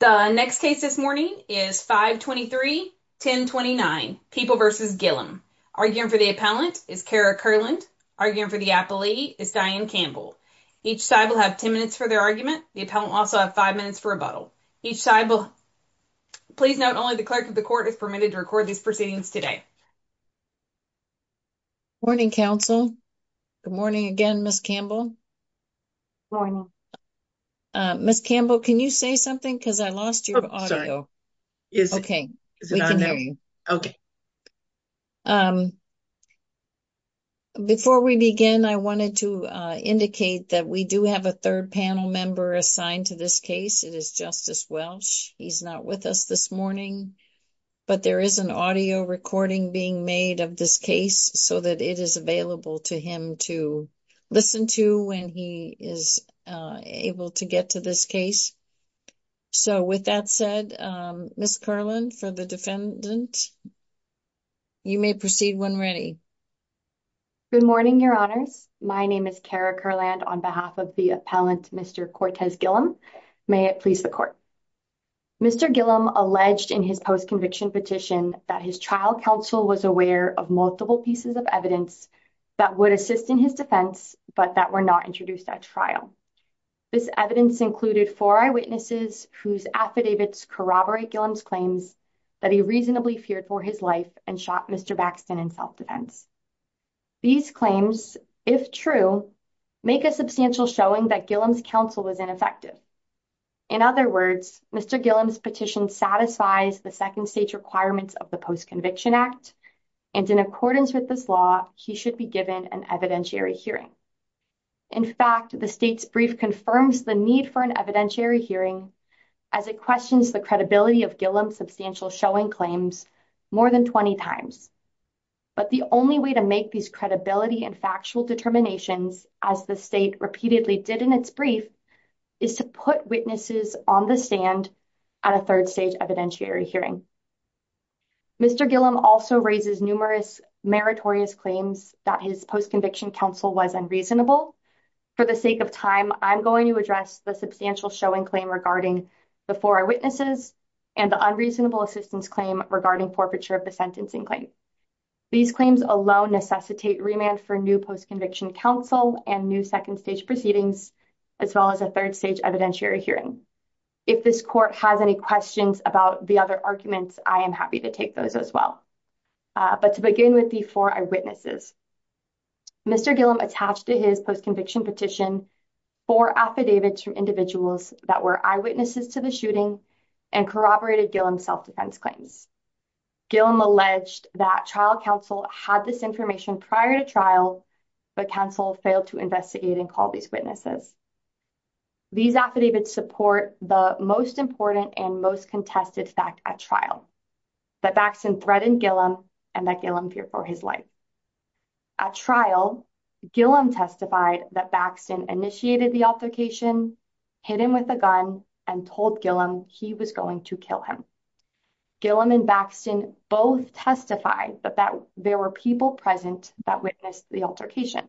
The next case this morning is 523-1029, People v. Gillum. Arguing for the appellant is Kara Kurland. Arguing for the appellee is Diane Campbell. Each side will have 10 minutes for their argument. The appellant will also have 5 minutes for rebuttal. Each side will... Please note only the clerk of the court is permitted to record these proceedings today. Morning, counsel. Good morning again, Ms. Campbell. Morning. Ms. Campbell, can you say something? Because I lost your audio. Okay, we can hear you. Before we begin, I wanted to indicate that we do have a 3rd panel member assigned to this case. It is Justice Welch. He's not with us this morning. But there is an audio recording being made of this case so that it is available to him to listen to when he is able to get to this case. So, with that said, Ms. Kurland, for the defendant, you may proceed when ready. Good morning, Your Honors. My name is Kara Kurland on behalf of the appellant, Mr. Cortez Gillum. May it please the court. Mr. Gillum alleged in his post-conviction petition that his trial counsel was aware of multiple pieces of evidence that would assist in his defense, but that were not introduced at trial. This evidence included 4 eyewitnesses whose affidavits corroborate Gillum's claims that he reasonably feared for his life and shot Mr. Baxton in self-defense. These claims, if true, make a substantial showing that Gillum's counsel was ineffective. In other words, Mr. Gillum's petition satisfies the second stage requirements of the Post-Conviction Act, and in accordance with this law, he should be given an evidentiary hearing. In fact, the state's brief confirms the need for an evidentiary hearing as it questions the credibility of Gillum's substantial showing claims more than 20 times. But the only way to make these credibility and factual determinations, as the state repeatedly did in its brief, is to put witnesses on the stand at a third stage evidentiary hearing. Mr. Gillum also raises numerous meritorious claims that his post-conviction counsel was unreasonable. For the sake of time, I'm going to address the substantial showing claim regarding the 4 eyewitnesses and the unreasonable assistance claim regarding forfeiture of the sentencing claim. These claims alone necessitate remand for new post-conviction counsel and new second stage proceedings, as well as a third stage evidentiary hearing. If this court has any questions about the other arguments, I am happy to take those as well. But to begin with the 4 eyewitnesses, Mr. Gillum attached to his post-conviction petition 4 affidavits from individuals that were eyewitnesses to the shooting and corroborated Gillum's self-defense claims. Gillum alleged that trial counsel had this information prior to trial, but counsel failed to investigate and call these witnesses. These affidavits support the most important and most contested fact at trial, that Baxton threatened Gillum and that Gillum feared for his life. At trial, Gillum testified that Baxton initiated the altercation, hit him with a gun, and told Gillum he was going to kill him. Gillum and Baxton both testified that there were people present that witnessed the altercation.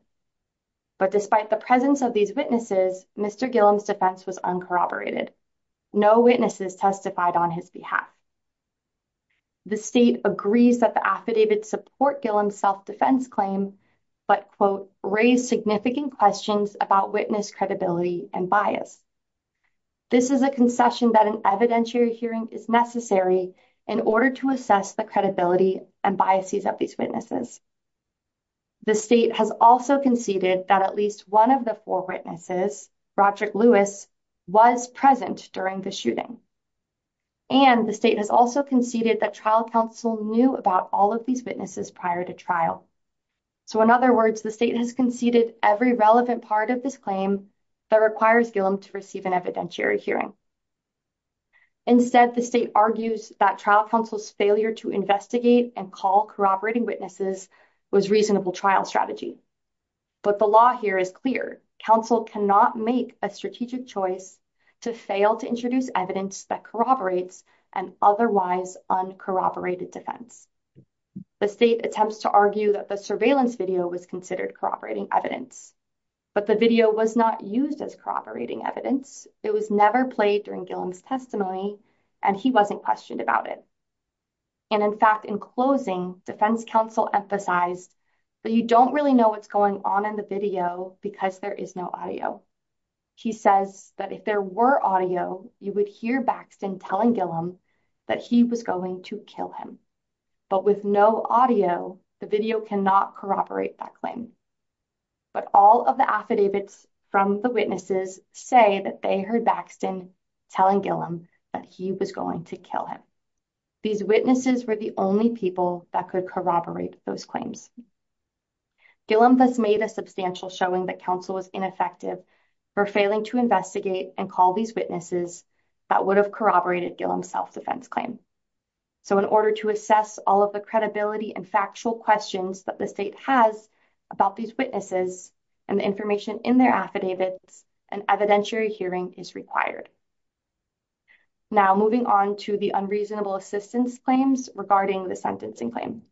But despite the presence of these witnesses, Mr. Gillum's defense was uncorroborated. No witnesses testified on his behalf. The state agrees that the affidavits support Gillum's self-defense claim, but quote, raise significant questions about witness credibility and bias. This is a concession that an evidentiary hearing is necessary in order to assess the credibility and biases of these witnesses. The state has also conceded that at least one of the four witnesses, Roderick Lewis, was present during the shooting. And the state has also conceded that trial counsel knew about all of these witnesses prior to trial. So in other words, the state has conceded every relevant part of this claim that requires Gillum to receive an evidentiary hearing. Instead, the state argues that trial counsel's failure to investigate and call corroborating witnesses was reasonable trial strategy. But the law here is clear. Counsel cannot make a strategic choice to fail to introduce evidence that corroborates an otherwise uncorroborated defense. The state attempts to argue that the surveillance video was considered corroborating evidence. But the video was not used as corroborating evidence. It was never played during Gillum's testimony, and he wasn't questioned about it. And in fact, in closing, defense counsel emphasized that you don't really know what's going on in the video because there is no audio. He says that if there were audio, you would hear Baxton telling Gillum that he was going to kill him. But with no audio, the video cannot corroborate that claim. But all of the affidavits from the witnesses say that they heard Baxton telling Gillum that he was going to kill him. These witnesses were the only people that could corroborate those claims. Gillum thus made a substantial showing that counsel was ineffective for failing to investigate and call these witnesses that would have corroborated Gillum's self-defense claim. So in order to assess all of the credibility and factual questions that the state has about these witnesses and the information in their affidavits, an evidentiary hearing is required. Now moving on to the unreasonable assistance claims regarding the sentencing claim.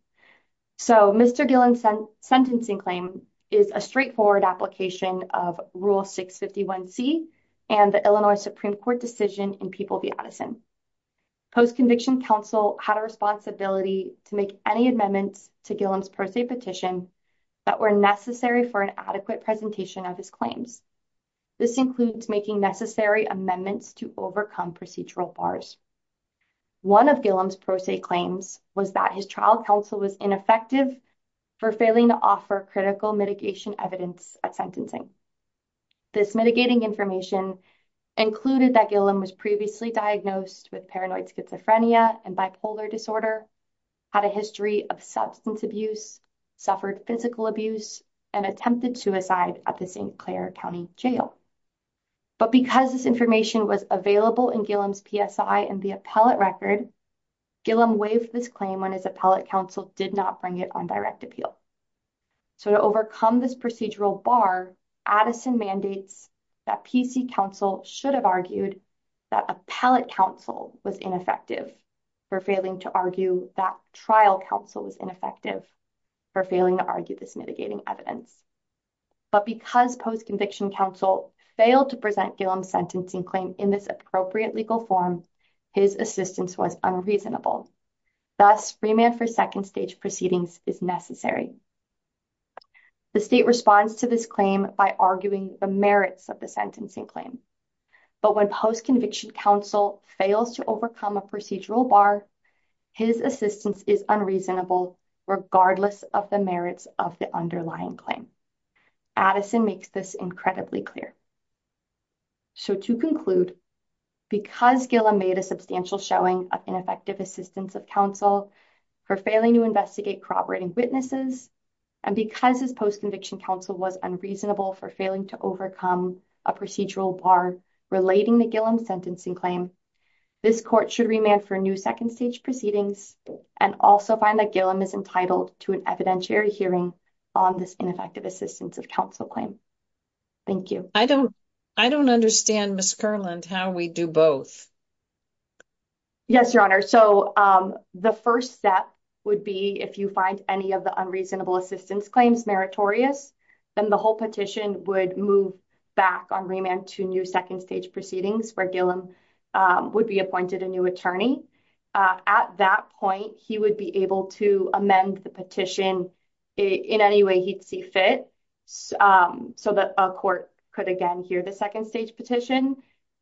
So Mr. Gillum's sentencing claim is a straightforward application of Rule 651C and the Illinois Supreme Court decision in People v. Addison. Post-conviction counsel had a responsibility to make any amendments to Gillum's pro se petition that were necessary for an adequate presentation of his claims. This includes making necessary amendments to overcome procedural bars. One of Gillum's pro se claims was that his trial counsel was ineffective for failing to offer critical mitigation evidence at sentencing. This mitigating information included that Gillum was previously diagnosed with paranoid schizophrenia and bipolar disorder, had a history of substance abuse, suffered physical abuse, and attempted suicide at the St. Clair County Jail. But because this information was available in Gillum's PSI and the appellate record, Gillum waived this claim when his appellate counsel did not bring it on direct appeal. So to overcome this procedural bar, Addison mandates that PC counsel should have argued that appellate counsel was ineffective for failing to argue that trial counsel was ineffective for failing to argue this mitigating evidence. But because post-conviction counsel failed to present Gillum's sentencing claim in this appropriate legal form, his assistance was unreasonable. Thus, remand for second stage proceedings is necessary. The state responds to this claim by arguing the merits of the sentencing claim. But when post-conviction counsel fails to overcome a procedural bar, his assistance is unreasonable regardless of the merits of the underlying claim. Addison makes this incredibly clear. So to conclude, because Gillum made a substantial showing of ineffective assistance of counsel for failing to investigate corroborating witnesses, and because his post-conviction counsel was unreasonable for failing to overcome a procedural bar relating to Gillum's sentencing claim, this court should remand for new second stage proceedings and also find that Gillum is entitled to an evidentiary hearing on this ineffective assistance of counsel claim. Thank you. I don't understand, Ms. Kerland, how we do both. Yes, Your Honor. So the first step would be if you find any of the unreasonable assistance claims meritorious, then the whole petition would move back on remand to new second stage proceedings where Gillum would be appointed a new attorney. At that point, he would be able to amend the petition in any way he'd see fit. So that a court could again hear the second stage petition.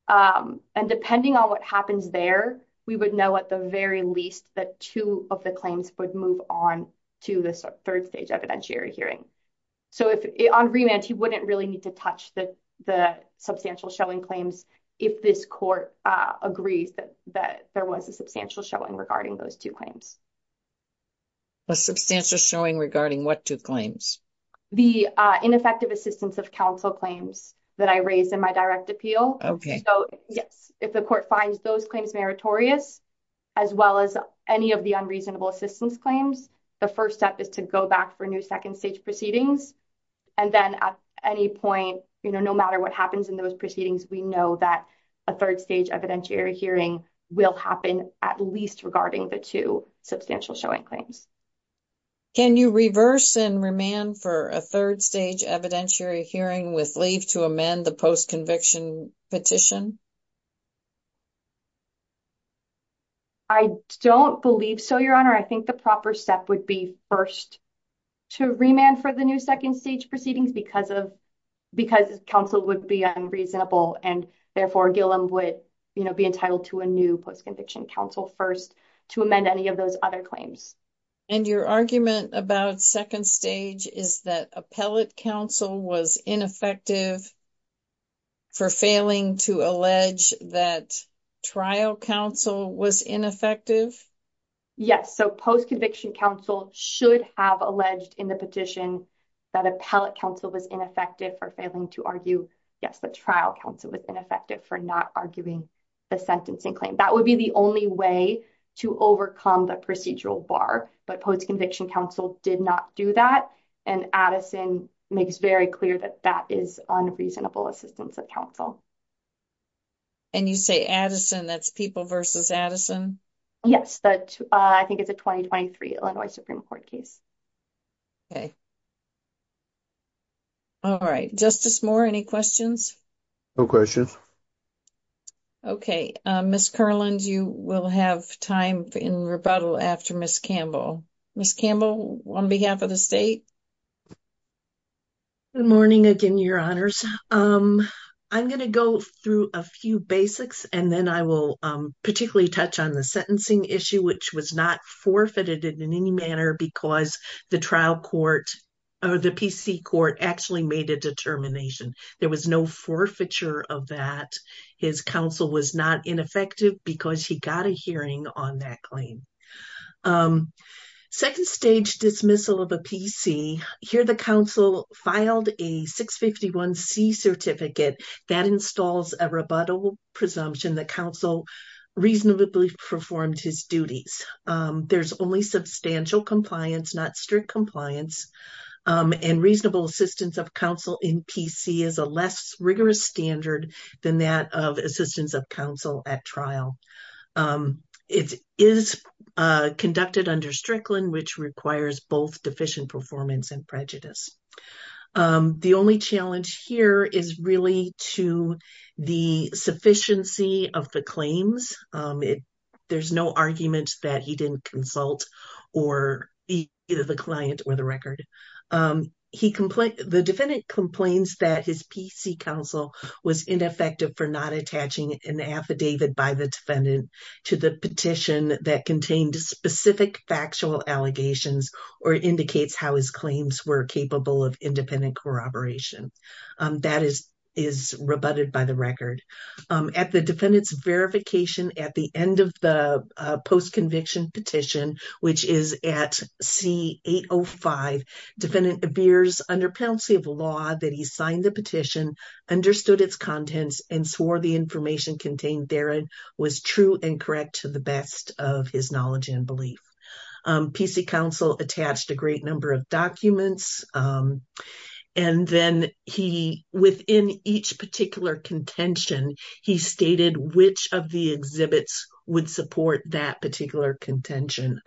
And depending on what happens there, we would know at the very least that two of the claims would move on to the third stage evidentiary hearing. So on remand, he wouldn't really need to touch the substantial showing claims if this court agrees that there was a substantial showing regarding those two claims. A substantial showing regarding what two claims? The ineffective assistance of counsel claims that I raised in my direct appeal. So, yes, if the court finds those claims meritorious, as well as any of the unreasonable assistance claims, the first step is to go back for new second stage proceedings. And then at any point, no matter what happens in those proceedings, we know that a third stage evidentiary hearing will happen at least regarding the two substantial showing claims. Can you reverse and remand for a third stage evidentiary hearing with leave to amend the post-conviction petition? I don't believe so, Your Honor. I think the proper step would be first to remand for the new second stage proceedings because counsel would be unreasonable and therefore Gillum would be entitled to a new post-conviction counsel first to amend any of those other claims. And your argument about second stage is that appellate counsel was ineffective for failing to allege that trial counsel was ineffective? Yes, so post-conviction counsel should have alleged in the petition that appellate counsel was ineffective for failing to argue, yes, that trial counsel was ineffective for not arguing the sentencing claim. That would be the only way to overcome the procedural bar. But post-conviction counsel did not do that. And Addison makes very clear that that is unreasonable assistance of counsel. And you say Addison, that's people versus Addison? Yes, I think it's a 2023 Illinois Supreme Court case. Okay. All right, Justice Moore, any questions? No questions. Okay, Ms. Kerland, you will have time in rebuttal after Ms. Campbell. Ms. Campbell, on behalf of the state. Good morning again, Your Honors. I'm going to go through a few basics and then I will particularly touch on the sentencing issue, which was not forfeited in any manner because the trial court or the PC court actually made a determination. There was no forfeiture of that. His counsel was not ineffective because he got a hearing on that claim. Second stage dismissal of a PC. Here the counsel filed a 651C certificate that installs a rebuttal presumption that counsel reasonably performed his duties. There's only substantial compliance, not strict compliance. And reasonable assistance of counsel in PC is a less rigorous standard than that of assistance of counsel at trial. It is conducted under Strickland, which requires both deficient performance and prejudice. The only challenge here is really to the sufficiency of the claims. There's no argument that he didn't consult or either the client or the record. The defendant complains that his PC counsel was ineffective for not attaching an affidavit by the defendant to the petition that contained specific factual allegations or indicates how his claims were capable of independent corroboration. That is rebutted by the record. At the defendant's verification at the end of the post-conviction petition, which is at C805, defendant appears under penalty of law that he signed the petition, understood its contents, and swore the information contained therein was true and correct to the best of his knowledge and belief. PC counsel attached a great number of documents. And then he, within each particular contention, he stated which of the exhibits would support that particular contention.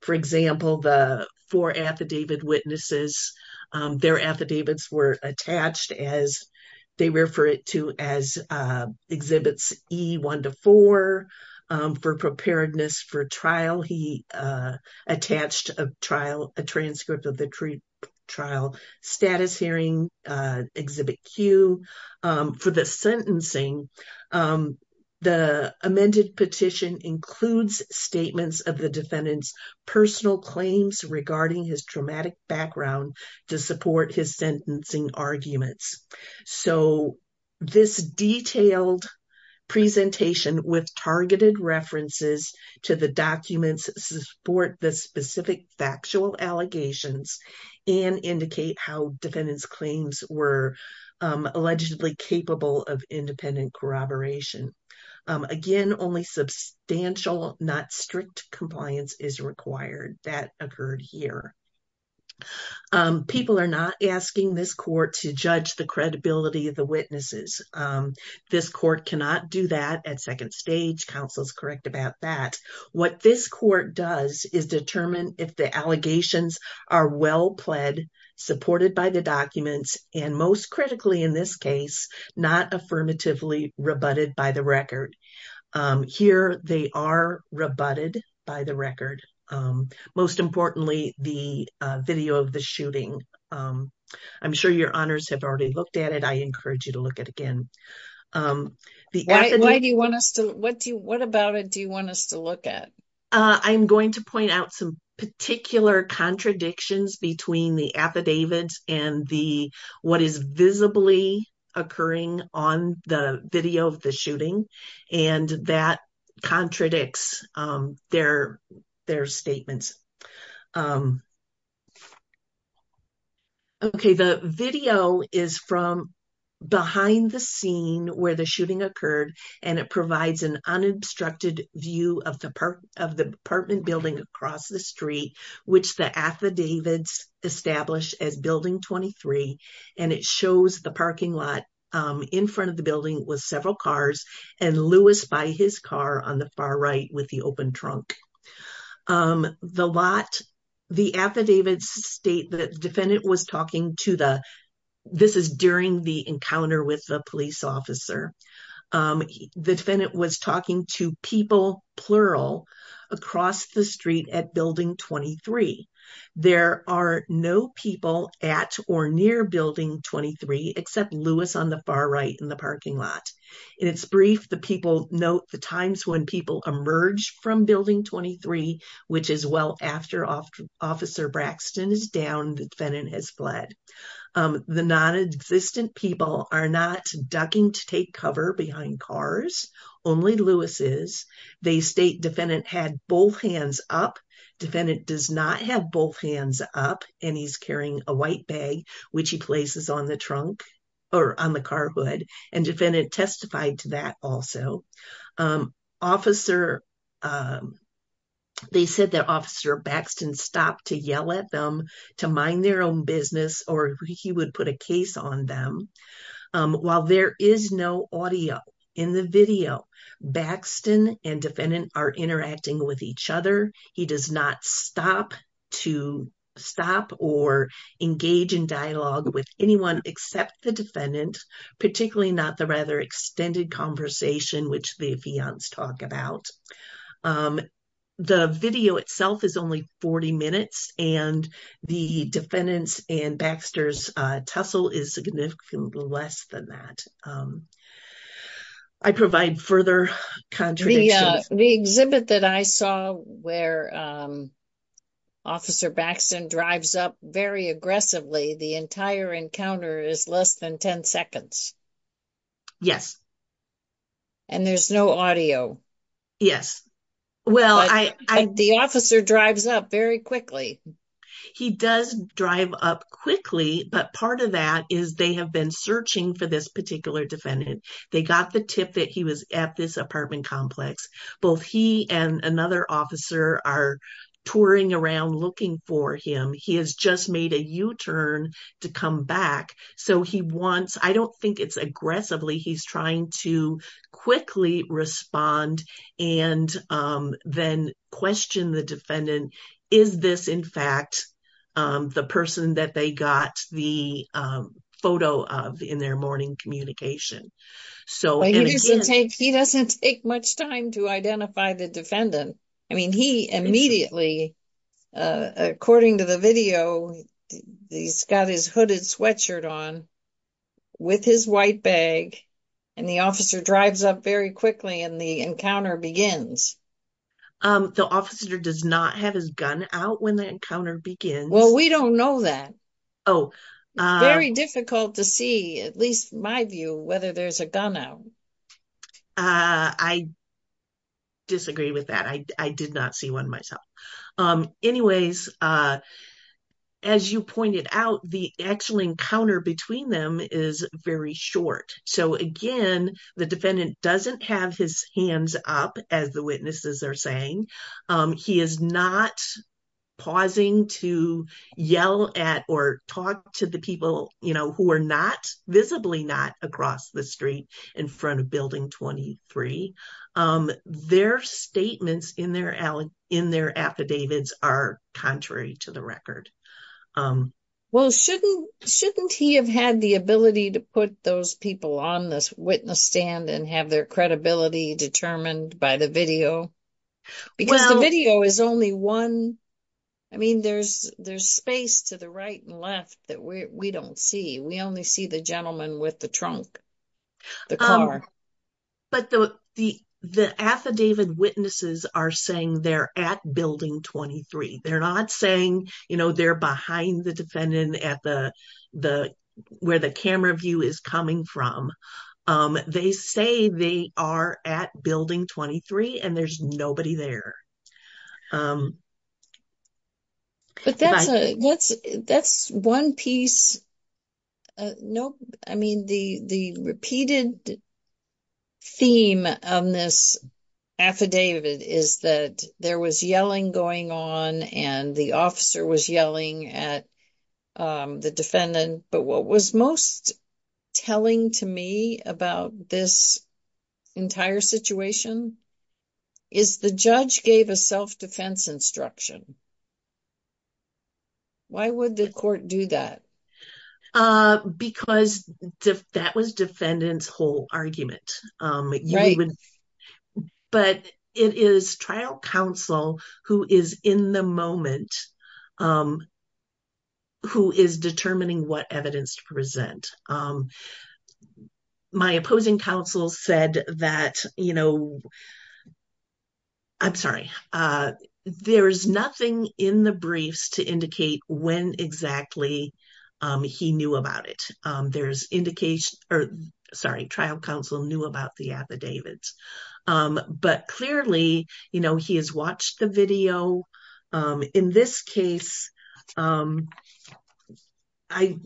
For example, the four affidavit witnesses, their affidavits were attached as they refer to as exhibits E1 to 4. For preparedness for trial, he attached a trial, a transcript of the trial status hearing exhibit Q. For the sentencing, the amended petition includes statements of the defendant's personal claims regarding his dramatic background to support his sentencing arguments. So this detailed presentation with targeted references to the documents support the specific factual allegations and indicate how defendant's claims were allegedly capable of independent corroboration. Again, only substantial, not strict compliance is required. That occurred here. People are not asking this court to judge the credibility of the witnesses. This court cannot do that at second stage. Counsel is correct about that. What this court does is determine if the allegations are well pled, supported by the documents, and most critically in this case, not affirmatively rebutted by the record. Here they are rebutted by the record. Most importantly, the video of the shooting. I'm sure your honors have already looked at it. I encourage you to look at it again. What about it do you want us to look at? I'm going to point out some particular contradictions between the affidavits and what is visibly occurring on the video of the shooting. That contradicts their statements. The video is from behind the scene where the shooting occurred. It provides an unobstructed view of the apartment building across the street, which the affidavits establish as Building 23. It shows the parking lot in front of the building with several cars, and Louis by his car on the far right with the open trunk. The affidavits state that the defendant was talking to, this is during the encounter with the police officer, the defendant was talking to people, plural, across the street at Building 23. There are no people at or near Building 23, except Louis on the far right in the parking lot. In its brief, the people note the times when people emerged from Building 23, which is well after Officer Braxton is down, the defendant has fled. The non-existent people are not ducking to take cover behind cars, only Louis is. They state defendant had both hands up, defendant does not have both hands up, and he's carrying a white bag, which he places on the trunk, or on the car hood, and defendant testified to that also. They said that Officer Braxton stopped to yell at them, to mind their own business, or he would put a case on them. While there is no audio, in the video, Braxton and defendant are interacting with each other, and Braxton does not stop to stop or engage in dialogue with anyone except the defendant, particularly not the rather extended conversation, which the fiance talked about. The video itself is only 40 minutes, and the defendant's and Baxter's tussle is significantly less than that. I provide further contradictions. The exhibit that I saw where Officer Braxton drives up very aggressively, the entire encounter is less than 10 seconds. Yes. And there's no audio. Yes. The officer drives up very quickly. He does drive up quickly, but part of that is they have been searching for this particular defendant. They got the tip that he was at this apartment complex. Both he and another officer are touring around looking for him. He has just made a U-turn to come back. I don't think it's aggressively. He's trying to quickly respond and then question the defendant. Is this, in fact, the person that they got the photo of in their morning communication? He doesn't take much time to identify the defendant. I mean, he immediately, according to the video, he's got his hooded sweatshirt on with his white bag, and the officer drives up very quickly and the encounter begins. The officer does not have his gun out when the encounter begins. Well, we don't know that. It's very difficult to see, at least my view, whether there's a gun out. I disagree with that. I did not see one myself. Anyways, as you pointed out, the actual encounter between them is very short. So, again, the defendant doesn't have his hands up, as the witnesses are saying. He is not pausing to yell at or talk to the people who are visibly not across the street in front of Building 23. Their statements in their affidavits are contrary to the record. Well, shouldn't he have had the ability to put those people on the witness stand and have their credibility determined by the video? Because the video is only one. I mean, there's space to the right and left that we don't see. We only see the gentleman with the trunk, the car. But the affidavit witnesses are saying they're at Building 23. They're not saying they're behind the defendant where the camera view is coming from. They say they are at Building 23 and there's nobody there. But that's one piece. I mean, the repeated theme of this affidavit is that there was yelling going on and the officer was yelling at the defendant. But what was most telling to me about this entire situation is the judge gave a self-defense instruction. Why would the court do that? Because that was defendant's whole argument. But it is trial counsel who is in the moment who is determining what evidence to present. My opposing counsel said that, you know, I'm sorry, there's nothing in the briefs to indicate when exactly he knew about it. There's indication, or sorry, trial counsel knew about the affidavit. But clearly, you know, he has watched the video. In this case, I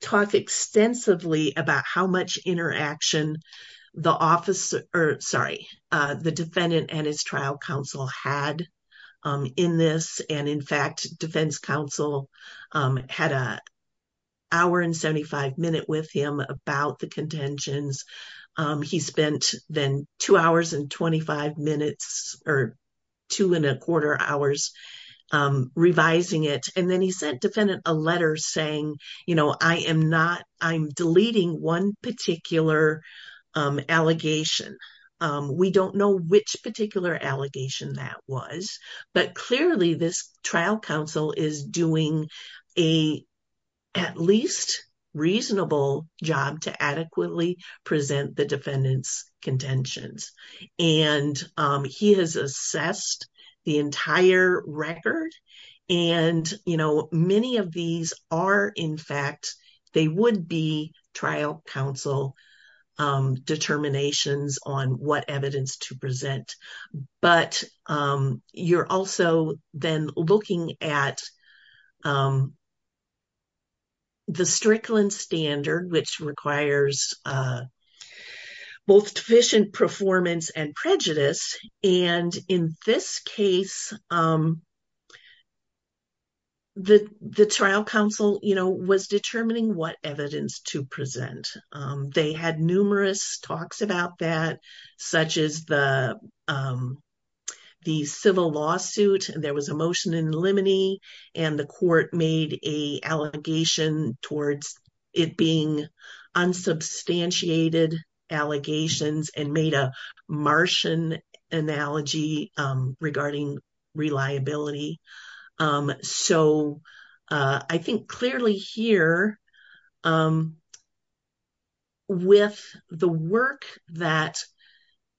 talk extensively about how much interaction the defendant and his trial counsel had in this. And in fact, defense counsel had an hour and 75 minutes with him about the contentions. He spent then two hours and 25 minutes or two and a quarter hours revising it. And then he sent defendant a letter saying, you know, I'm deleting one particular allegation. We don't know which particular allegation that was. But clearly, this trial counsel is doing a at least reasonable job to adequately present the defendant's contentions. And he has assessed the entire record. And, you know, many of these are, in fact, they would be trial counsel determinations on what evidence to present. But you're also then looking at the Strickland standard, which requires both deficient performance and prejudice. And in this case, the trial counsel, you know, was determining what evidence to present. They had numerous talks about that, such as the civil lawsuit. There was a motion in limine and the court made a allegation towards it being unsubstantiated allegations and made a Martian analogy regarding reliability. So I think clearly here with the work that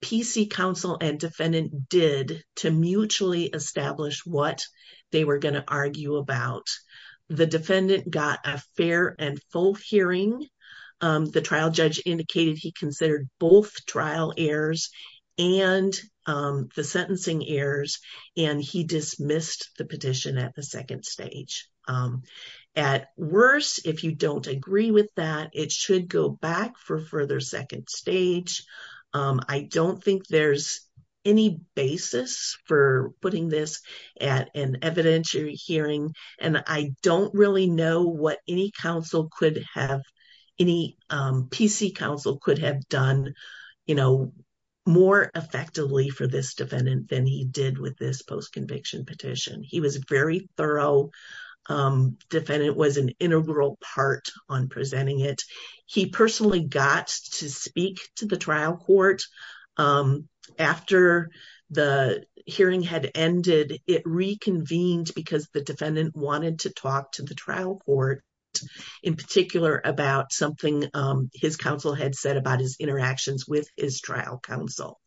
PC counsel and defendant did to mutually establish what they were going to argue about, the defendant got a fair and full hearing. The trial judge indicated he considered both trial errors and the sentencing errors. And he dismissed the petition at the second stage. At worst, if you don't agree with that, it should go back for further second stage. I don't think there's any basis for putting this at an evidentiary hearing. And I don't really know what any counsel could have, any PC counsel could have done, you know, more effectively for this defendant than he did with this post-conviction petition. He was very thorough. Defendant was an integral part on presenting it. He personally got to speak to the trial court after the hearing had ended. It reconvened because the defendant wanted to talk to the trial court in particular about something his counsel had said about his interactions with his trial counsel.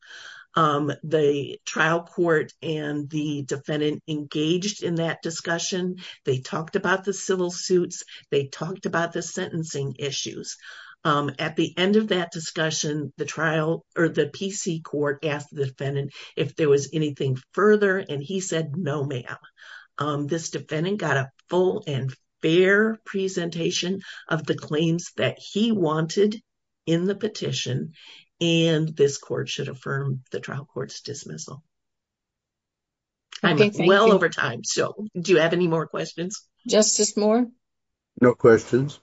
The trial court and the defendant engaged in that discussion. They talked about the civil suits. They talked about the sentencing issues. At the end of that discussion, the trial or the PC court asked the defendant if there was anything further. And he said, no, ma'am. This defendant got a full and fair presentation of the claims that he wanted in the petition. And this court should affirm the trial court's dismissal. I'm well over time. So do you have any more questions? Justice Moore? No questions.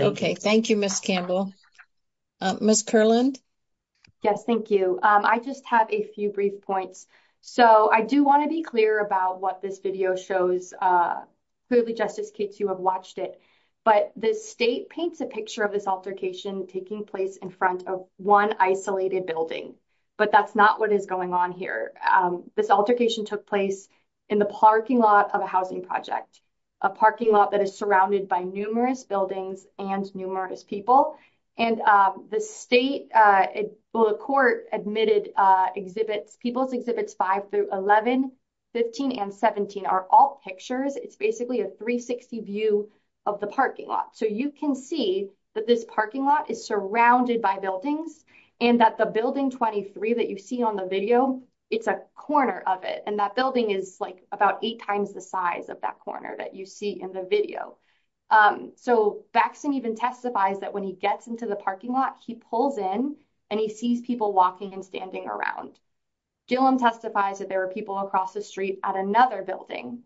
Okay, thank you, Ms. Campbell. Ms. Kerland? Yes, thank you. I just have a few brief points. So I do want to be clear about what this video shows. Clearly, Justice Cates, you have watched it. But the state paints a picture of this altercation taking place in front of one isolated building. But that's not what is going on here. This altercation took place in the parking lot of a housing project, a parking lot that is surrounded by numerous buildings and numerous people. And the state, well, the court admitted exhibits, People's Exhibits 5 through 11, 15, and 17 are all pictures. It's basically a 360 view of the parking lot. So you can see that this parking lot is surrounded by buildings and that the building 23 that you see on the video, it's a corner of it. And that building is like about eight times the size of that corner that you see in the video. So Baxton even testifies that when he gets into the parking lot, he pulls in and he sees people walking and standing around. Gillum testifies that there were people across the street at another building.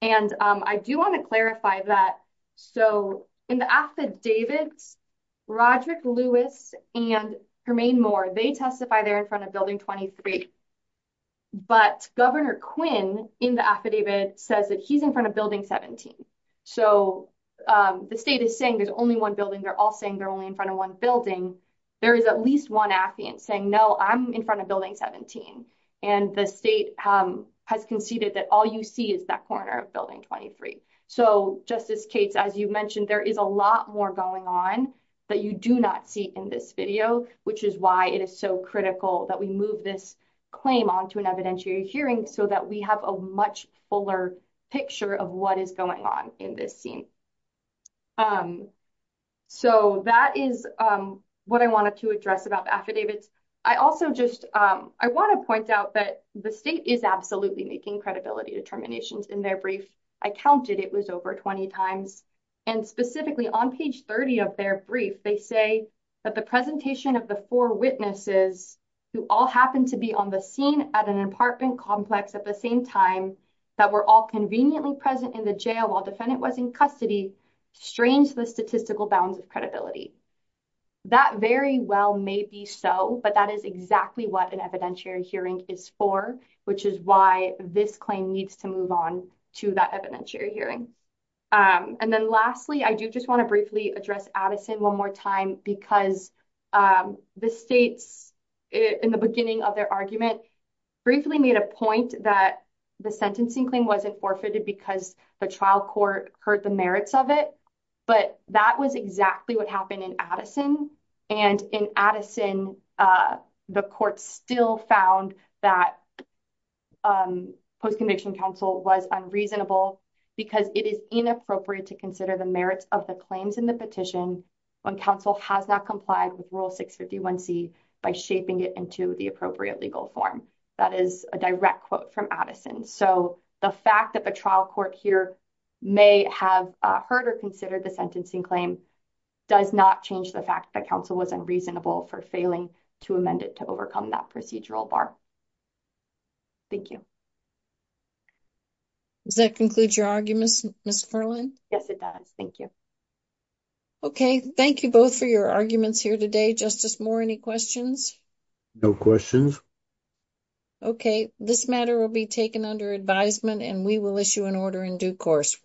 And I do want to clarify that. So in the affidavits, Roderick Lewis and Hermaine Moore, they testify they're in front of building 23. But Governor Quinn in the affidavit says that he's in front of building 17. So the state is saying there's only one building. They're all saying they're only in front of one building. There is at least one affidavit saying, no, I'm in front of building 17. And the state has conceded that all you see is that corner of building 23. So Justice Cates, as you mentioned, there is a lot more going on that you do not see in this video, which is why it is so critical that we move this claim onto an evidentiary hearing so that we have a much fuller picture of what is going on in this scene. So that is what I wanted to address about affidavits. I also just, I want to point out that the state is absolutely making credibility determinations in their brief. I counted, it was over 20 times. And specifically on page 30 of their brief, they say that the presentation of the four witnesses who all happened to be on the scene at an apartment complex at the same time that were all conveniently present in the jail while defendant was in custody strains the statistical bounds of credibility. That very well may be so, but that is exactly what an evidentiary hearing is for, which is why this claim was moved onto that evidentiary hearing. And then lastly, I do just want to briefly address Addison one more time because the states in the beginning of their argument briefly made a point that the sentencing claim wasn't forfeited because the trial court heard the merits of it, but that was exactly what happened in Addison. And in Addison, the court still found that it was unreasonable because it is inappropriate to consider the merits of the claims in the petition when counsel has not complied with Rule 651C by shaping it into the appropriate legal form. That is a direct quote from Addison. So the fact that the trial court here may have heard or considered the sentencing claim does not change the fact that counsel was unreasonable for failing to amend it to overcome that procedural bar. Thank you. Does that conclude your argument, Ms. Merlin? Yes, it does. Thank you. Okay, thank you both for your arguments here today. Justice Moore, any questions? No questions. Okay, this matter will be taken under advisement and we will issue an order in due course.